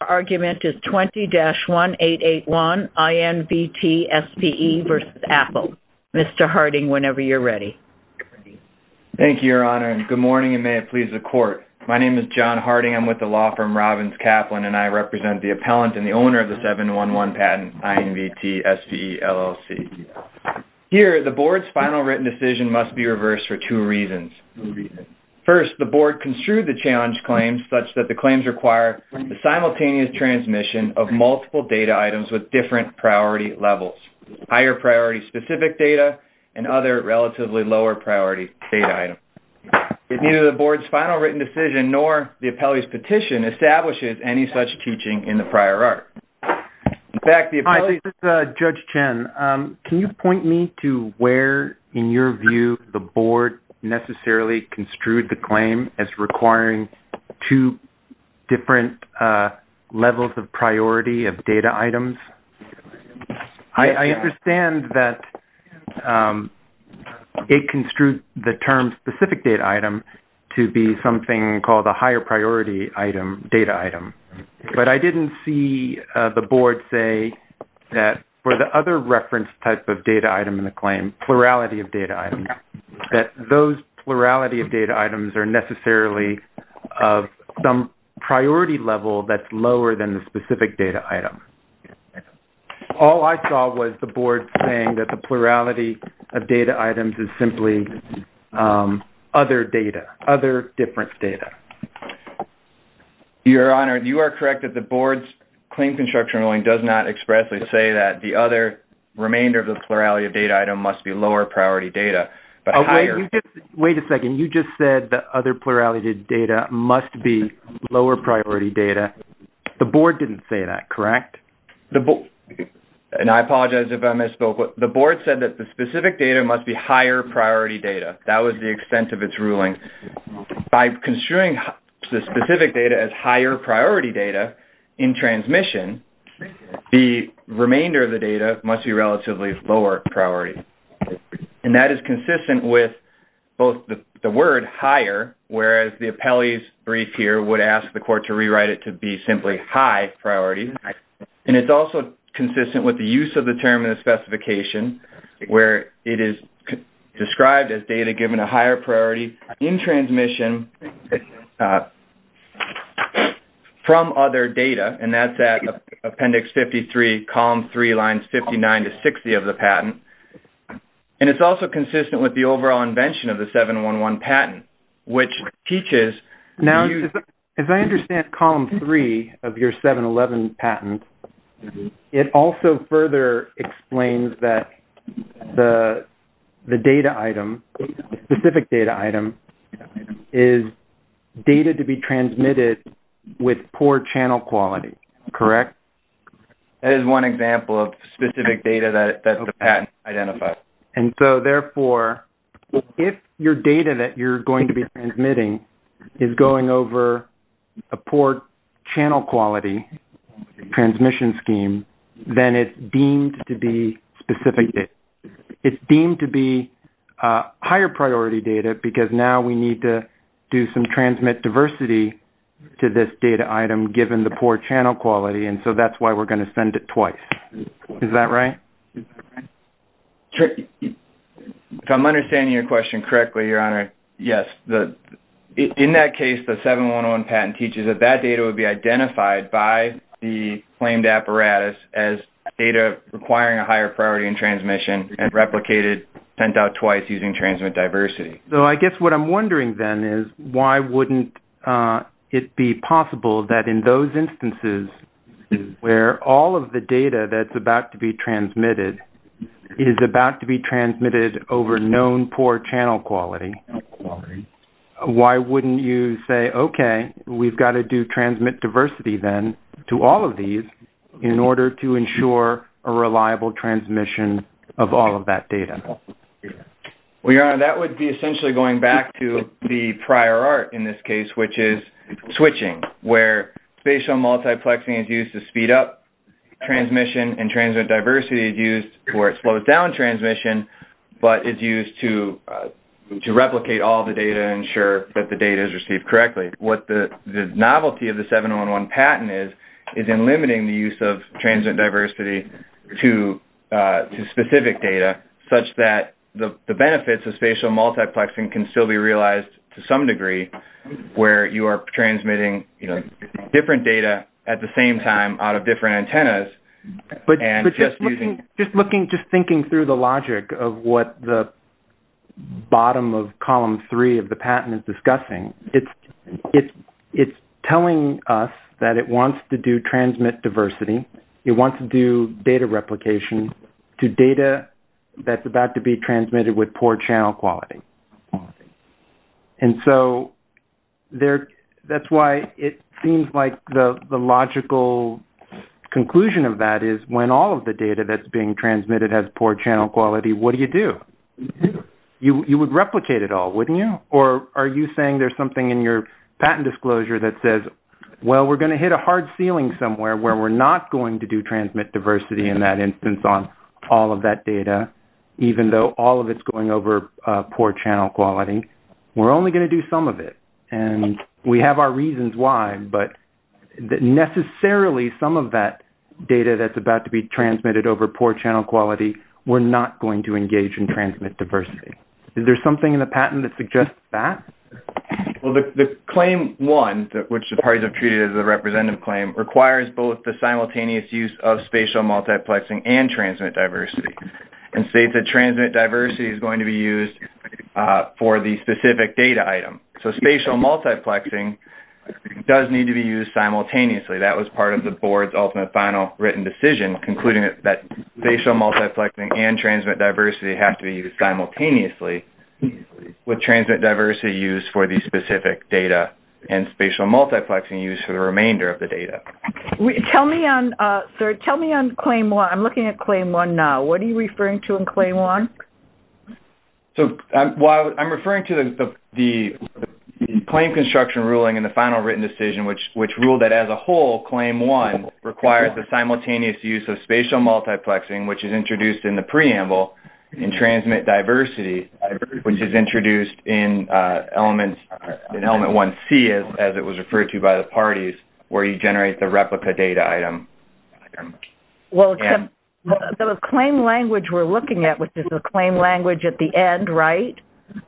Our argument is 20-1881 INVT SPE v. Apple. Mr. Harding, whenever you're ready. Thank you, Your Honor, and good morning, and may it please the Court. My name is John Harding. I'm with the law firm Robbins Kaplan, and I represent the appellant and the owner of the 711 patent, INVT SPE LLC. Here, the Board's final written decision must be reversed for two reasons. First, the Board construed the challenge claims such that the claims require the simultaneous transmission of multiple data items with different priority levels, higher priority specific data and other relatively lower priority data items. Neither the Board's final written decision nor the appellee's petition establishes any such teaching in the prior art. In fact, the appellee's- Hi, this is Judge Chen. Can you point me to where, in your view, the Board necessarily construed the claim as requiring two different levels of priority of data items? I understand that it construed the term specific data item to be something called a higher priority item-data item, but I didn't see the Board say that for the other reference type of data item in the claim, plurality of data items, that those plurality of data items are necessarily of some priority level that's lower than the specific data item. All I saw was the Board saying that the plurality of data items is simply other data, other different data. Your Honor, you are correct that the Board's claim construction ruling does not expressly say that the other remainder of the plurality of data item must be lower priority data, but higher- Wait a second. You just said the other plurality of data must be lower priority data. The Board didn't say that, correct? And I apologize if I misspoke. The Board said that the specific data must be higher priority data. That was the extent of its ruling. By construing the specific data as higher priority data in transmission, the remainder of the data must be relatively lower priority, and that is consistent with both the word higher, whereas the appellee's brief here would ask the court to rewrite it to be simply high priority, and it's also consistent with the use of the term in the specification where it is described as data given a higher priority in transmission from other data, and that's at Appendix 53, Column 3, Lines 59 to 60 of the patent. And it's also consistent with the overall invention of the 711 patent, which teaches- The data item, the specific data item, is data to be transmitted with poor channel quality, correct? That is one example of specific data that the patent identifies. And so, therefore, if your data that you're going to be transmitting is going over a poor channel quality transmission scheme, then it's deemed to be specific. It's deemed to be higher priority data because now we need to do some transmit diversity to this data item given the poor channel quality, and so that's why we're going to send it twice. Is that right? If I'm understanding your question correctly, Your Honor, yes. In that case, the 711 patent teaches that that data would be identified by the claimed apparatus as data requiring a higher priority in transmission and replicated, sent out twice using transmit diversity. So, I guess what I'm wondering, then, is why wouldn't it be possible that in those instances where all of the data that's about to be transmitted is about to be transmitted over known poor channel quality, why wouldn't you say, okay, we've got to do transmit diversity, then, to all of these in order to ensure a reliable transmission of all of that data? Well, Your Honor, that would be essentially going back to the prior art in this case, which is switching, where spatial multiplexing is used to speed up transmission and transmit diversity is used to where it slows down transmission, but it's used to replicate all the data and ensure that the data is received correctly. What the novelty of the 711 patent is, is in limiting the use of transmit diversity to specific data such that the benefits of spatial multiplexing can still be realized to some degree where you are transmitting different data at the same time out of different antennas. Just looking, just thinking through the logic of what the it's telling us that it wants to do transmit diversity, it wants to do data replication to data that's about to be transmitted with poor channel quality. And so, that's why it seems like the logical conclusion of that is when all of the data that's being transmitted has poor channel quality, what do you do? You would replicate it all, disclosure that says, well, we're going to hit a hard ceiling somewhere where we're not going to do transmit diversity in that instance on all of that data, even though all of it's going over poor channel quality, we're only going to do some of it. And we have our reasons why, but necessarily some of that data that's about to be transmitted over poor channel quality, we're not going to engage in transmit diversity. Is there something in the patent that suggests that? Well, the claim one, which the parties have treated as a representative claim, requires both the simultaneous use of spatial multiplexing and transmit diversity and states that transmit diversity is going to be used for the specific data item. So, spatial multiplexing does need to be used simultaneously. That was part of the board's ultimate final written decision concluding that spatial multiplexing and transmit diversity have to be used simultaneously with transmit diversity used for the specific data and spatial multiplexing used for the remainder of the data. Tell me on, sir, tell me on claim one, I'm looking at claim one now, what are you referring to in claim one? So, while I'm referring to the claim construction ruling in the final written decision, which ruled that as a whole, claim one requires the simultaneous use of spatial multiplexing, which is introduced in the preamble, and transmit diversity, which is introduced in element one C, as it was referred to by the parties, where you generate the replica data item. Well, the claim language we're looking at, which is a claim language at the end, right,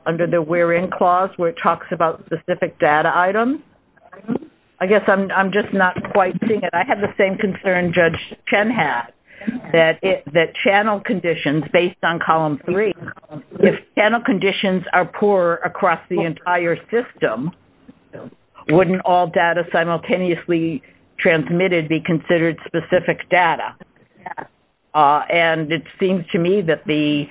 under the we're in clause, where it talks about specific data items. I guess I'm just not quite seeing it. I have the same concern Judge Chen had, that channel conditions based on column three, if channel conditions are poor across the entire system, wouldn't all data simultaneously transmitted be considered specific data? And it seems to me that the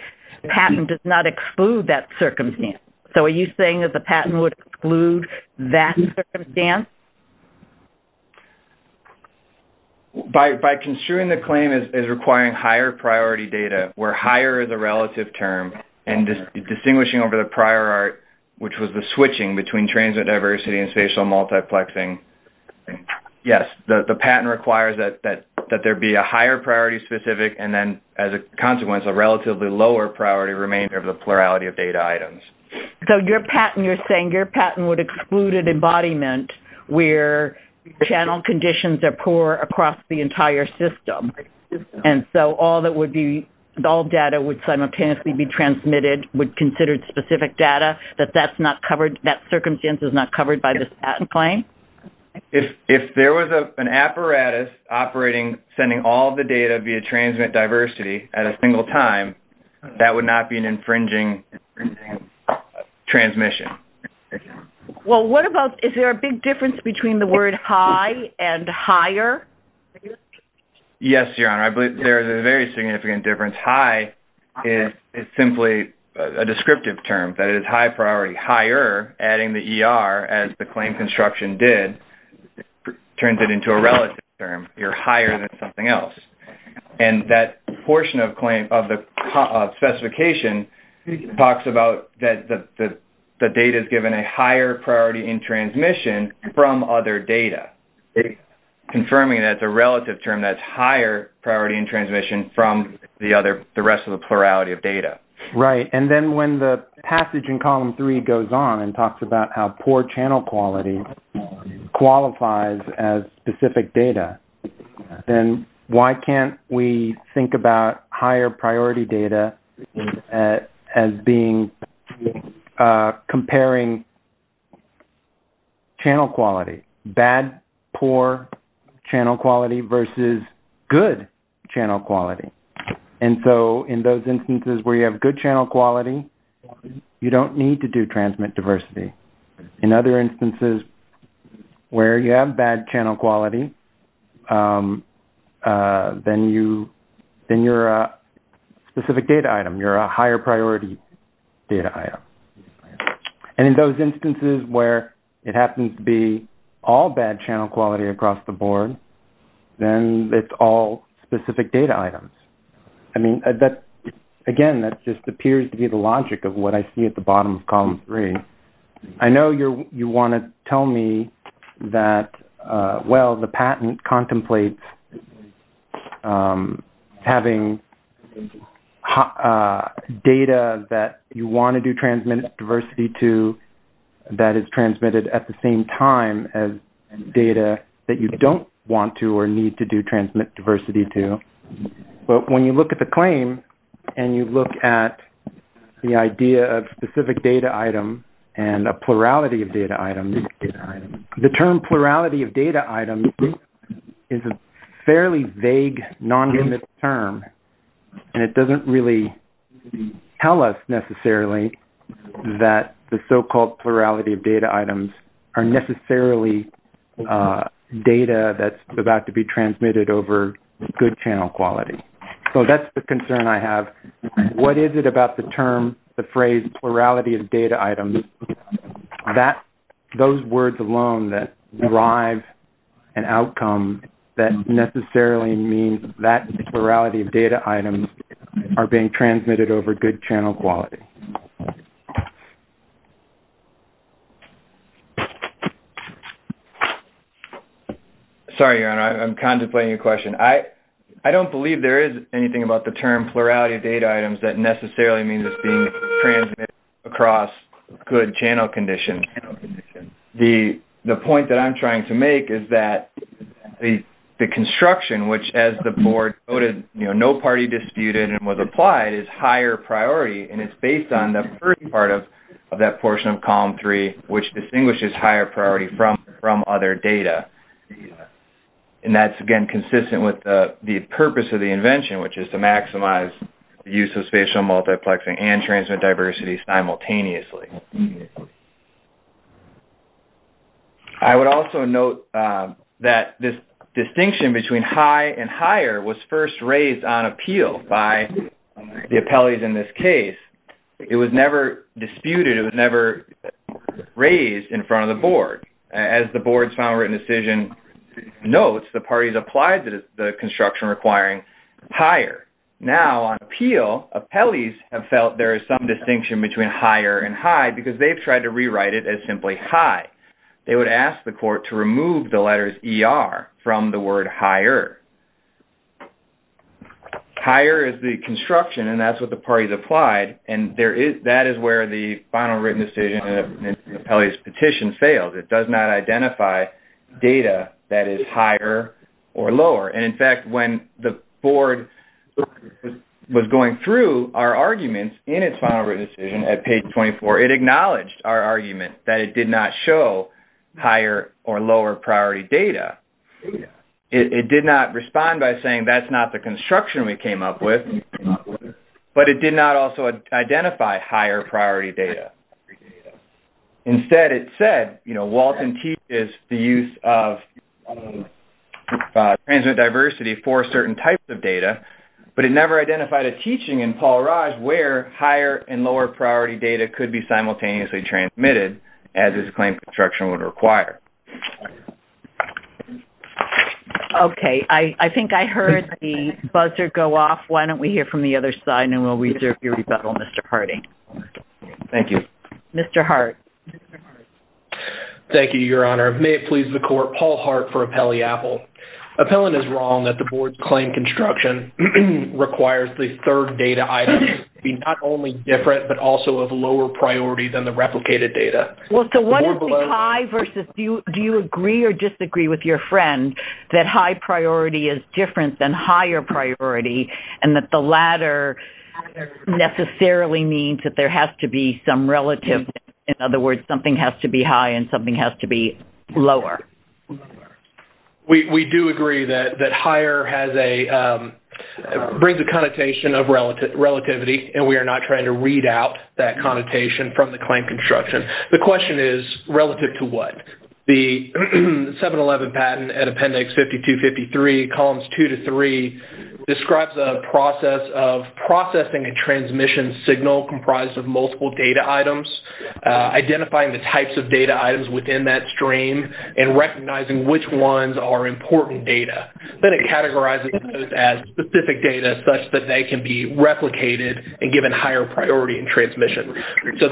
patent does not exclude that circumstance. So, are you saying that the patent would exclude that circumstance? By construing the claim as requiring higher priority data, where higher is a relative term, and distinguishing over the prior art, which was the switching between transmit diversity and spatial multiplexing, yes, the patent requires that there be a higher priority specific, and then as a consequence, a relatively lower priority remainder of the plurality of data items. So, your patent, you're saying your patent would exclude an embodiment where channel conditions are poor across the entire system. And so, all that would be, all data would simultaneously be transmitted, would consider specific data, that that's not covered, that circumstance is not covered by this patent claim? If there was an apparatus operating, sending all the data via transmit diversity at a single time, that would not be an infringing transmission. Okay. Well, what about, is there a big difference between the word high and higher? Yes, Your Honor. I believe there is a very significant difference. High is simply a descriptive term, that is high priority. Higher, adding the ER, as the claim construction did, turns it into a relative term. You're higher than something else. And that portion of the specification talks about that the data is given a higher priority in transmission from other data. Confirming that it's a relative term, that's higher priority in transmission from the rest of the plurality of data. Right. And then when the passage in column three goes on and talks about how poor channel quality qualifies as specific data, then why can't we think about higher priority data as being, comparing channel quality, bad, poor channel quality versus good channel quality. And so, in those instances where you have good channel quality, you don't need to do transmit diversity. In other instances where you have bad channel quality, then you're a specific data item. You're a higher priority data item. And in those instances where it happens to be all bad channel quality across the board, then it's all specific data items. I mean, again, that just appears to be the logic of what I see at the bottom of column three. I know you want to tell me that, well, the patent contemplates having data that you want to do transmit diversity to that is transmitted at the same time as data that you don't want to or need to do transmit diversity to. But when you look at the claim and you look at the idea of specific data item and a plurality of data items, the term plurality of data items is a fairly vague, non-limited term. And it doesn't really tell us necessarily that the so-called plurality of data items are necessarily data that's about to be transmitted over good channel quality. So that's the concern I have. What is it about the term, the phrase plurality of data items? Those words alone that drive an outcome that necessarily means that plurality of data items are being transmitted over good channel quality. Sorry, Aaron. I'm contemplating your question. I don't believe there is anything about the term plurality of data items that necessarily means it's being transmitted across good channel conditions. The point that I'm trying to make is that the construction, which as the board noted, no party disputed and was applied, is higher priority. And it's based on the first part of that portion of column three, which distinguishes higher priority from other data. And that's, again, consistent with the purpose of the invention, which is to maximize the use of spatial multiplexing and transmit diversity simultaneously. I would also note that this distinction between high and higher was first raised on appeal by the appellees in this case. It was never disputed. It was never raised in front of the board. As the board's final written decision notes, the parties applied the construction requiring higher. Now, on appeal, appellees have felt there is some distinction between higher and higher. Because they've tried to rewrite it as simply high. They would ask the court to remove the letters ER from the word higher. Higher is the construction, and that's what the parties applied. And that is where the final written decision and the appellee's petition failed. It does not identify data that is higher or lower. And in fact, when the board was going through our arguments in its final written decision at page 24, it acknowledged our argument that it did not show higher or lower priority data. It did not respond by saying that's not the construction we came up with, but it did not also identify higher priority data. Instead, it said, you know, Walton teaches the use of transmit diversity for certain types of data, but it never identified a teaching in higher and lower priority data could be simultaneously transmitted as is the claim construction would require. Okay. I think I heard the buzzer go off. Why don't we hear from the other side, and we'll reserve your rebuttal, Mr. Harding. Thank you. Mr. Hart. Thank you, Your Honor. May it please the court, Paul Hart for Appellee Apple. Appellant is wrong that the board's claim construction requires the third data item be not only different, but also of lower priority than the replicated data. Well, so what is the high versus do you agree or disagree with your friend that high priority is different than higher priority and that the latter necessarily means that there has to be some relative, in other words, something has to be high and something has to be lower? We do agree that higher has a, brings a connotation of relativity, and we are not trying to read out that connotation from the claim construction. The question is relative to what? The 711 patent at Appendix 5253, Columns 2 to 3 describes a process of processing a transmission signal comprised of multiple data items within that stream and recognizing which ones are important data. Then it categorizes those as specific data such that they can be replicated and given higher priority in transmission. So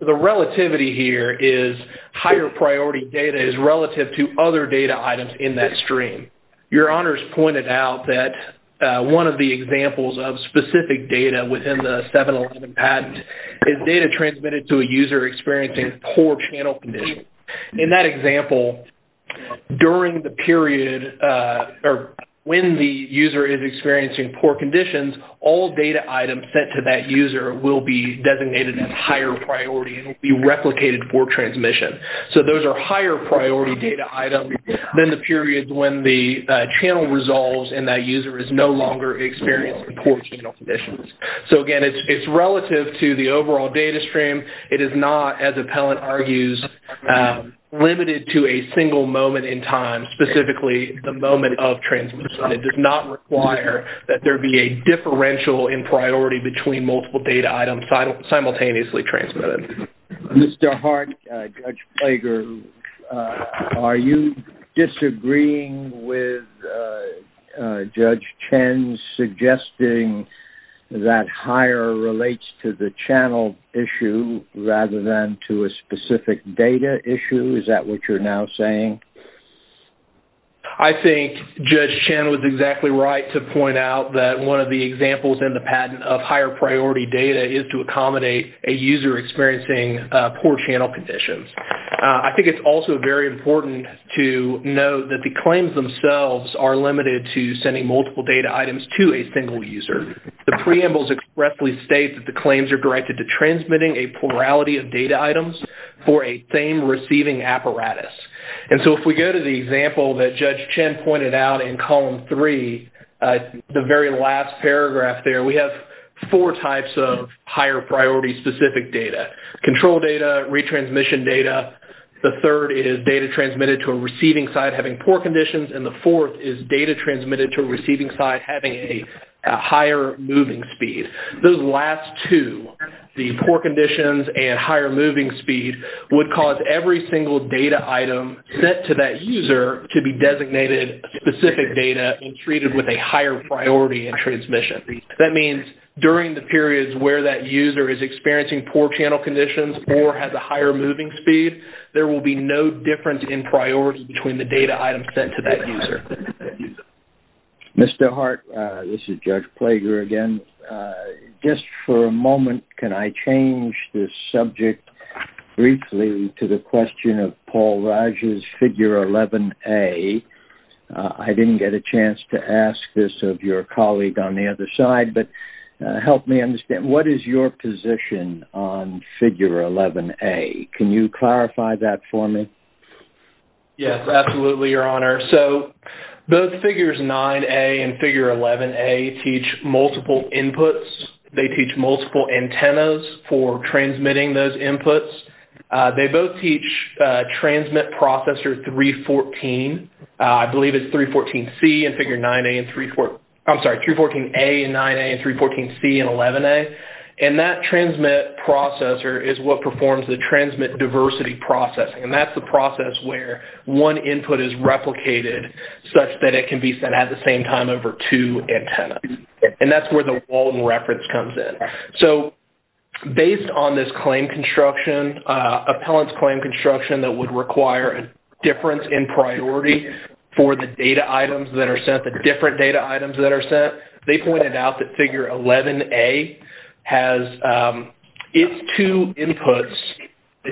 the relativity here is higher priority data is relative to other data items in that stream. Your Honor's pointed out that one of the examples of specific data within the 711 patent is data transmitted to a user experiencing poor channel conditions. In that example, during the period, or when the user is experiencing poor conditions, all data items sent to that user will be designated as higher priority and will be replicated for transmission. So those are higher priority data items than the periods when the channel resolves and that user is no longer experiencing poor channel conditions. So again, it's relative to the overall data stream. It is not, as Appellant argues, limited to a single moment in time, specifically the moment of transmission. It does not require that there be a differential in priority between multiple data items simultaneously transmitted. Mr. Hart, Judge Plager, are you disagreeing with Judge Chen's suggesting that higher relates to the channel issue rather than to a specific data issue? Is that what you're now saying? I think Judge Chen was exactly right to point out that one of the examples in the patent of user experiencing poor channel conditions. I think it's also very important to know that the claims themselves are limited to sending multiple data items to a single user. The preambles expressly state that the claims are directed to transmitting a plurality of data items for a same receiving apparatus. And so if we go to the example that Judge Chen pointed out in column three, the very last paragraph there, we have four types of higher priority specific data. Control data, retransmission data, the third is data transmitted to a receiving side having poor conditions, and the fourth is data transmitted to a receiving side having a higher moving speed. Those last two, the poor conditions and higher moving speed, would cause every single data item sent to that user to be designated specific data and treated with a higher priority in transmission. That means during the periods where that user is experiencing poor channel conditions or has a higher moving speed, there will be no difference in priority between the data items sent to that user. Mr. Hart, this is Judge Plager again. Just for a moment, can I change the subject briefly to the question of Paul Raj's figure 11a? I didn't get a chance to ask this of your colleague on the other side, but help me understand. What is your position on figure 11a? Can you clarify that for me? Yes, absolutely, Your Honor. Those figures 9a and figure 11a teach multiple inputs. They teach multiple antennas for transmitting those inputs. They both teach transmit processor 314. I believe it's 314a and 9a and 314c and 11a. That transmit processor is what performs the transmit diversity processing. That's the process where one input is replicated such that it can be sent at the same time over two antennas. That's where the Walden reference comes in. Based on this claim construction, appellant's claim construction that would require a difference in priority for the data items that are sent, the different data items that are sent, they pointed out that figure 11a has its two inputs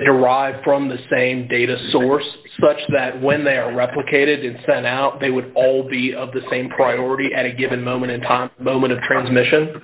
derived from the same data source such that when they are replicated and sent out, they would all be of the same priority at a given moment in time, moment of transmission.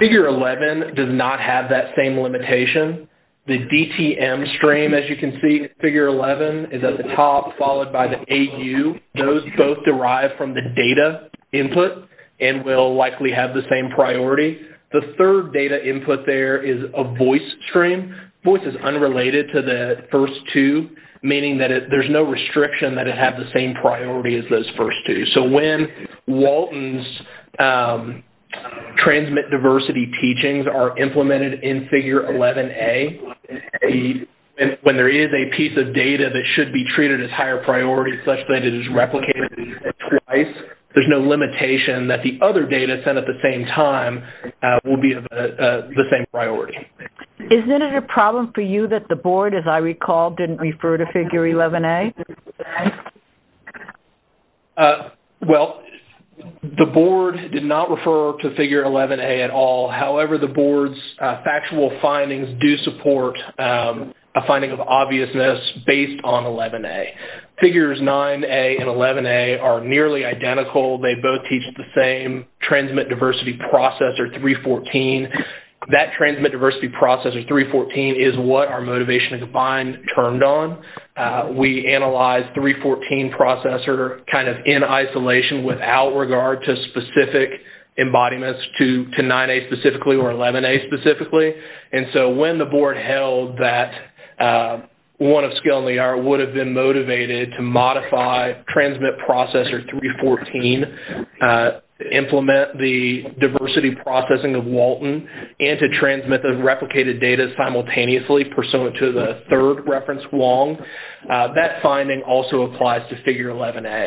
Figure 11 does not have that same limitation. The DTM stream, as you can see in figure 11, is at the top followed by the AU. Those both derive from the data input and will likely have the same priority. The third data input there is a voice stream. Voice is unrelated to the first two, meaning that there's no restriction that it has the same priority as those first two. When Walden's transmit diversity teachings are implemented in figure 11a, when there is a piece of data that should be treated as higher priority such that it is replicated twice, there's no limitation that the other data sent at the same time will be of the same priority. Isn't it a problem for you that the board, as I recall, didn't refer to figure 11a? Well, the board did not refer to figure 11a at all. However, the board's factual findings do support a finding of obviousness based on 11a. Figures 9a and 11a are nearly identical. They both teach the same transmit diversity processor, 314. That transmit diversity processor, 314, is what our motivation and combined turned on. We analyzed 314 processor kind of in isolation without regard to specific embodiments to 9a specifically or 11a specifically. When the board held that one of Skill and Lear would have been motivated to modify transmit processor 314, implement the diversity processing of Walden, and to transmit the replicated data simultaneously pursuant to the third reference Wong, that finding also applies to figure 11a.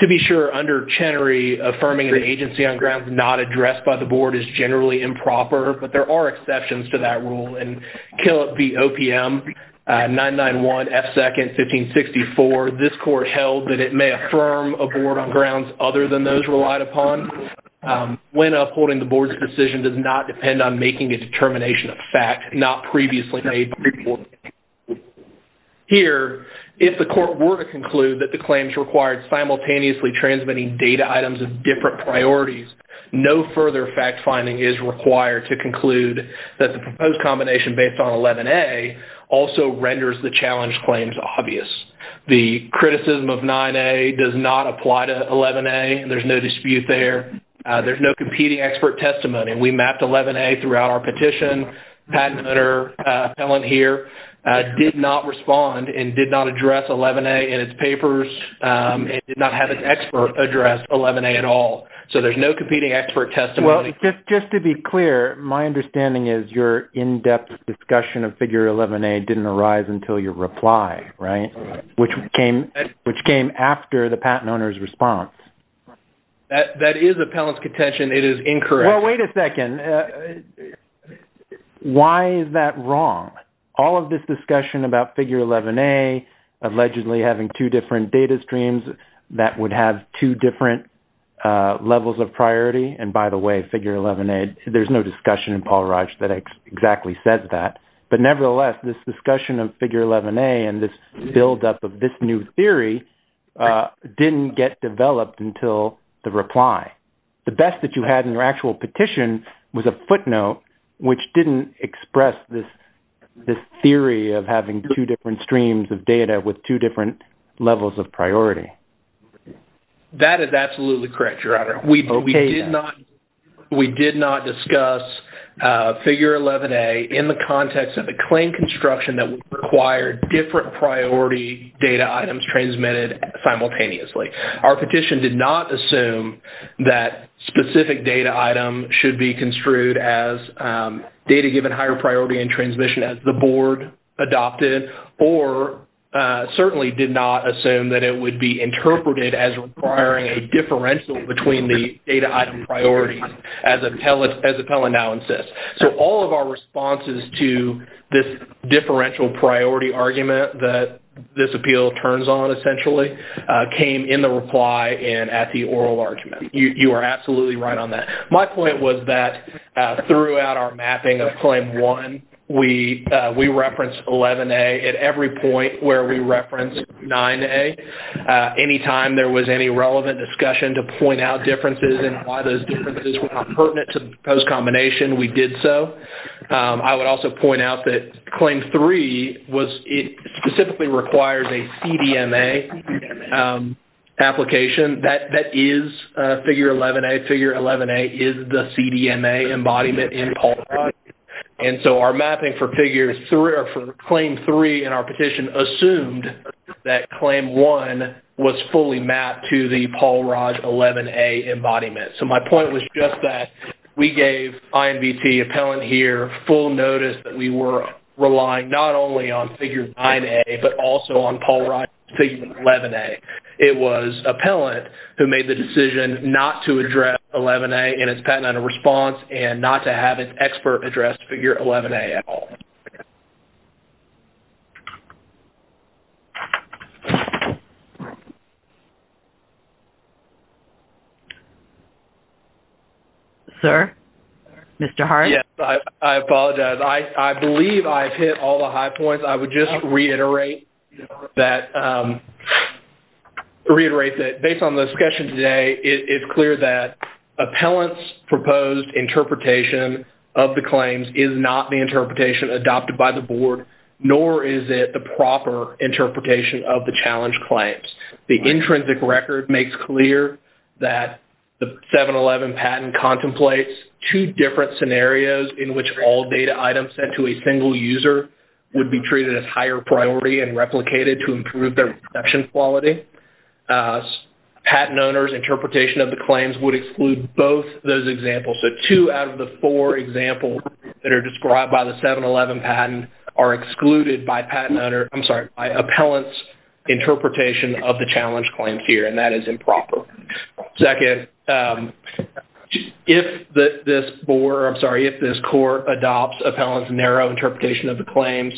To be sure, under Chenery, affirming the agency on grounds not addressed by the board is generally improper, but there are exceptions to that rule. In Killop v. OPM, 991 F. 2nd, 1564, this court held that it may affirm a board on grounds other than those relied upon. When upholding the board's decision does not depend on making a determination of fact not previously made. Here, if the court were to conclude that the claims required simultaneously transmitting data is required to conclude that the proposed combination based on 11a also renders the challenge claims obvious. The criticism of 9a does not apply to 11a. There's no dispute there. There's no competing expert testimony. We mapped 11a throughout our petition. Patent owner, Helen here, did not respond and did not address 11a in its papers. It did not have an expert address 11a at all, so there's no competing expert testimony. Just to be clear, my understanding is your in-depth discussion of figure 11a didn't arise until your reply, which came after the patent owner's response. That is appellant's contention. It is incorrect. Wait a second. Why is that wrong? All of this discussion about figure 11a allegedly having two different data streams that would have two different levels of priority, and by the way, figure 11a, there's no discussion in Paul Raj that exactly says that, but nevertheless, this discussion of figure 11a and this buildup of this new theory didn't get developed until the reply. The best that you had in your actual petition was a footnote, which didn't express this theory of having two different streams of data with two different levels of priority. That is absolutely correct, but we did not discuss figure 11a in the context of a claim construction that would require different priority data items transmitted simultaneously. Our petition did not assume that specific data item should be construed as data given higher priority in transmission as the board adopted or certainly did not assume that it would be interpreted as requiring a data item priority as appellant now insists. All of our responses to this differential priority argument that this appeal turns on essentially came in the reply and at the oral argument. You are absolutely right on that. My point was that throughout our mapping of claim one, we referenced 11a at every point where we referenced 9a. Anytime there was any relevant discussion to point out differences and why those differences were not pertinent to post-combination, we did so. I would also point out that claim three specifically requires a CDMA application. That is figure 11a. Figure 11a is the CDMA embodiment in Paul. Our mapping for claim three in our petition assumed that claim one was fully mapped to the Paul Raj 11a embodiment. My point was just that we gave INVT appellant here full notice that we were relying not only on figure 9a but also on Paul Raj figure 11a. It was appellant who made the decision not to address 11a in its patented response and not to have an expert address figure 11a at all. Sir? Mr. Hart? Yes. I apologize. I believe I have hit all the high points. I would just reiterate that based on the discussion today, it is clear that appellant's proposed interpretation of the claims is not the interpretation adopted by the board, nor is it the proper interpretation of the challenge claims. The intrinsic record makes clear that the 711 patent contemplates two different scenarios in which all data items sent to a single user would be treated as higher priority and replicated to improve their production quality. Patent owners' interpretation of the examples that are described by the 711 patent are excluded by appellant's interpretation of the challenge claims here, and that is improper. Second, if this court adopts appellant's narrow interpretation of the claims,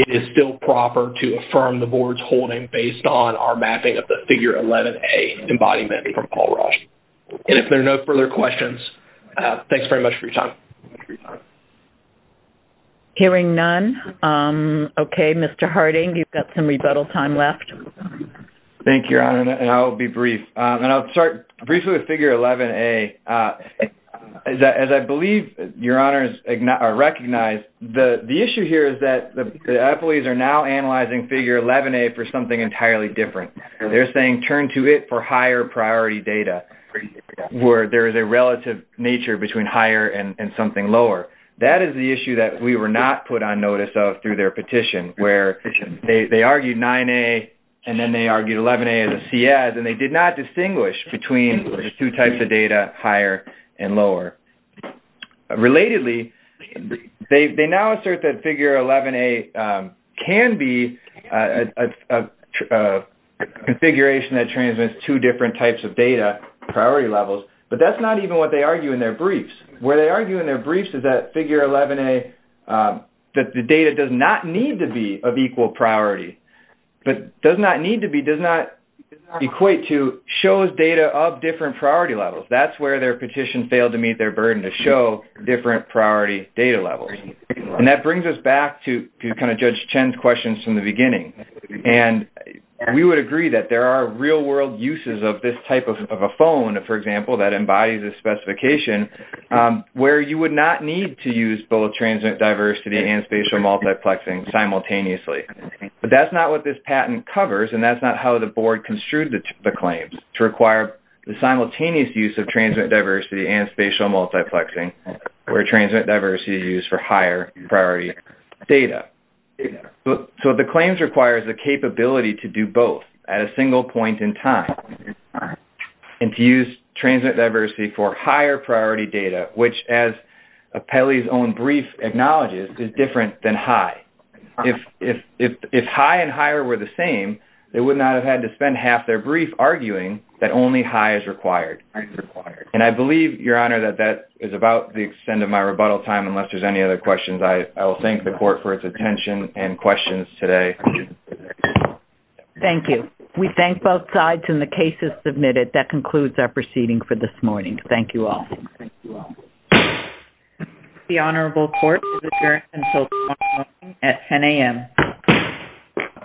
it is still proper to affirm the board's holding based on our mapping of the figure 11a embodiment from Paul Raj. If there are no further questions, thanks very much for your time. Hearing none, okay, Mr. Harding, you've got some rebuttal time left. Thank you, Your Honor, and I'll be brief. And I'll start briefly with figure 11a. As I believe Your Honors recognize, the issue here is that the appellees are now analyzing figure 11a for something entirely different. They're saying, turn to it for higher priority data where there is a relative nature between higher and something lower. That is the issue that we were not put on notice of through their petition, where they argued 9a, and then they argued 11a as a C.S., and they did not distinguish between the two types of data, higher and lower. Relatedly, they now assert that figure 11a can be a configuration that transmits two different types of data, priority levels, but that's not even what they argue in their briefs. Where they argue in their briefs is that figure 11a, that the data does not need to be of equal priority, but does not need to be, does not equate to, shows data of different priority levels. That's where their petition failed to meet their burden to show different priority data levels. And that brings us back to kind of Judge Chen's questions from the beginning. And we would agree that there are real-world uses of this type of a phone, for example, that embodies this specification, where you would not need to use both transmit diversity and spatial multiplexing simultaneously. But that's not what this patent covers, and that's not how the board construed the claims, to require the simultaneous use of transmit diversity and spatial multiplexing, where transmit diversity is used for higher priority data. So the claims requires the capability to do both at a single point in time, and to use transmit diversity for higher priority data, which as Apelli's own brief acknowledges, is different than HIE. If HIE and HIE were the same, they would not have had to spend half their brief arguing that only HIE is required. And I believe, Your Honor, that that is about the extent of my rebuttal time, unless there's any other questions. I will thank the court for its attention and questions today. Thank you. We thank both sides, and the case is submitted. That concludes our proceeding for this morning. Thank you all. The honorable court is adjourned until tomorrow morning at 10 a.m.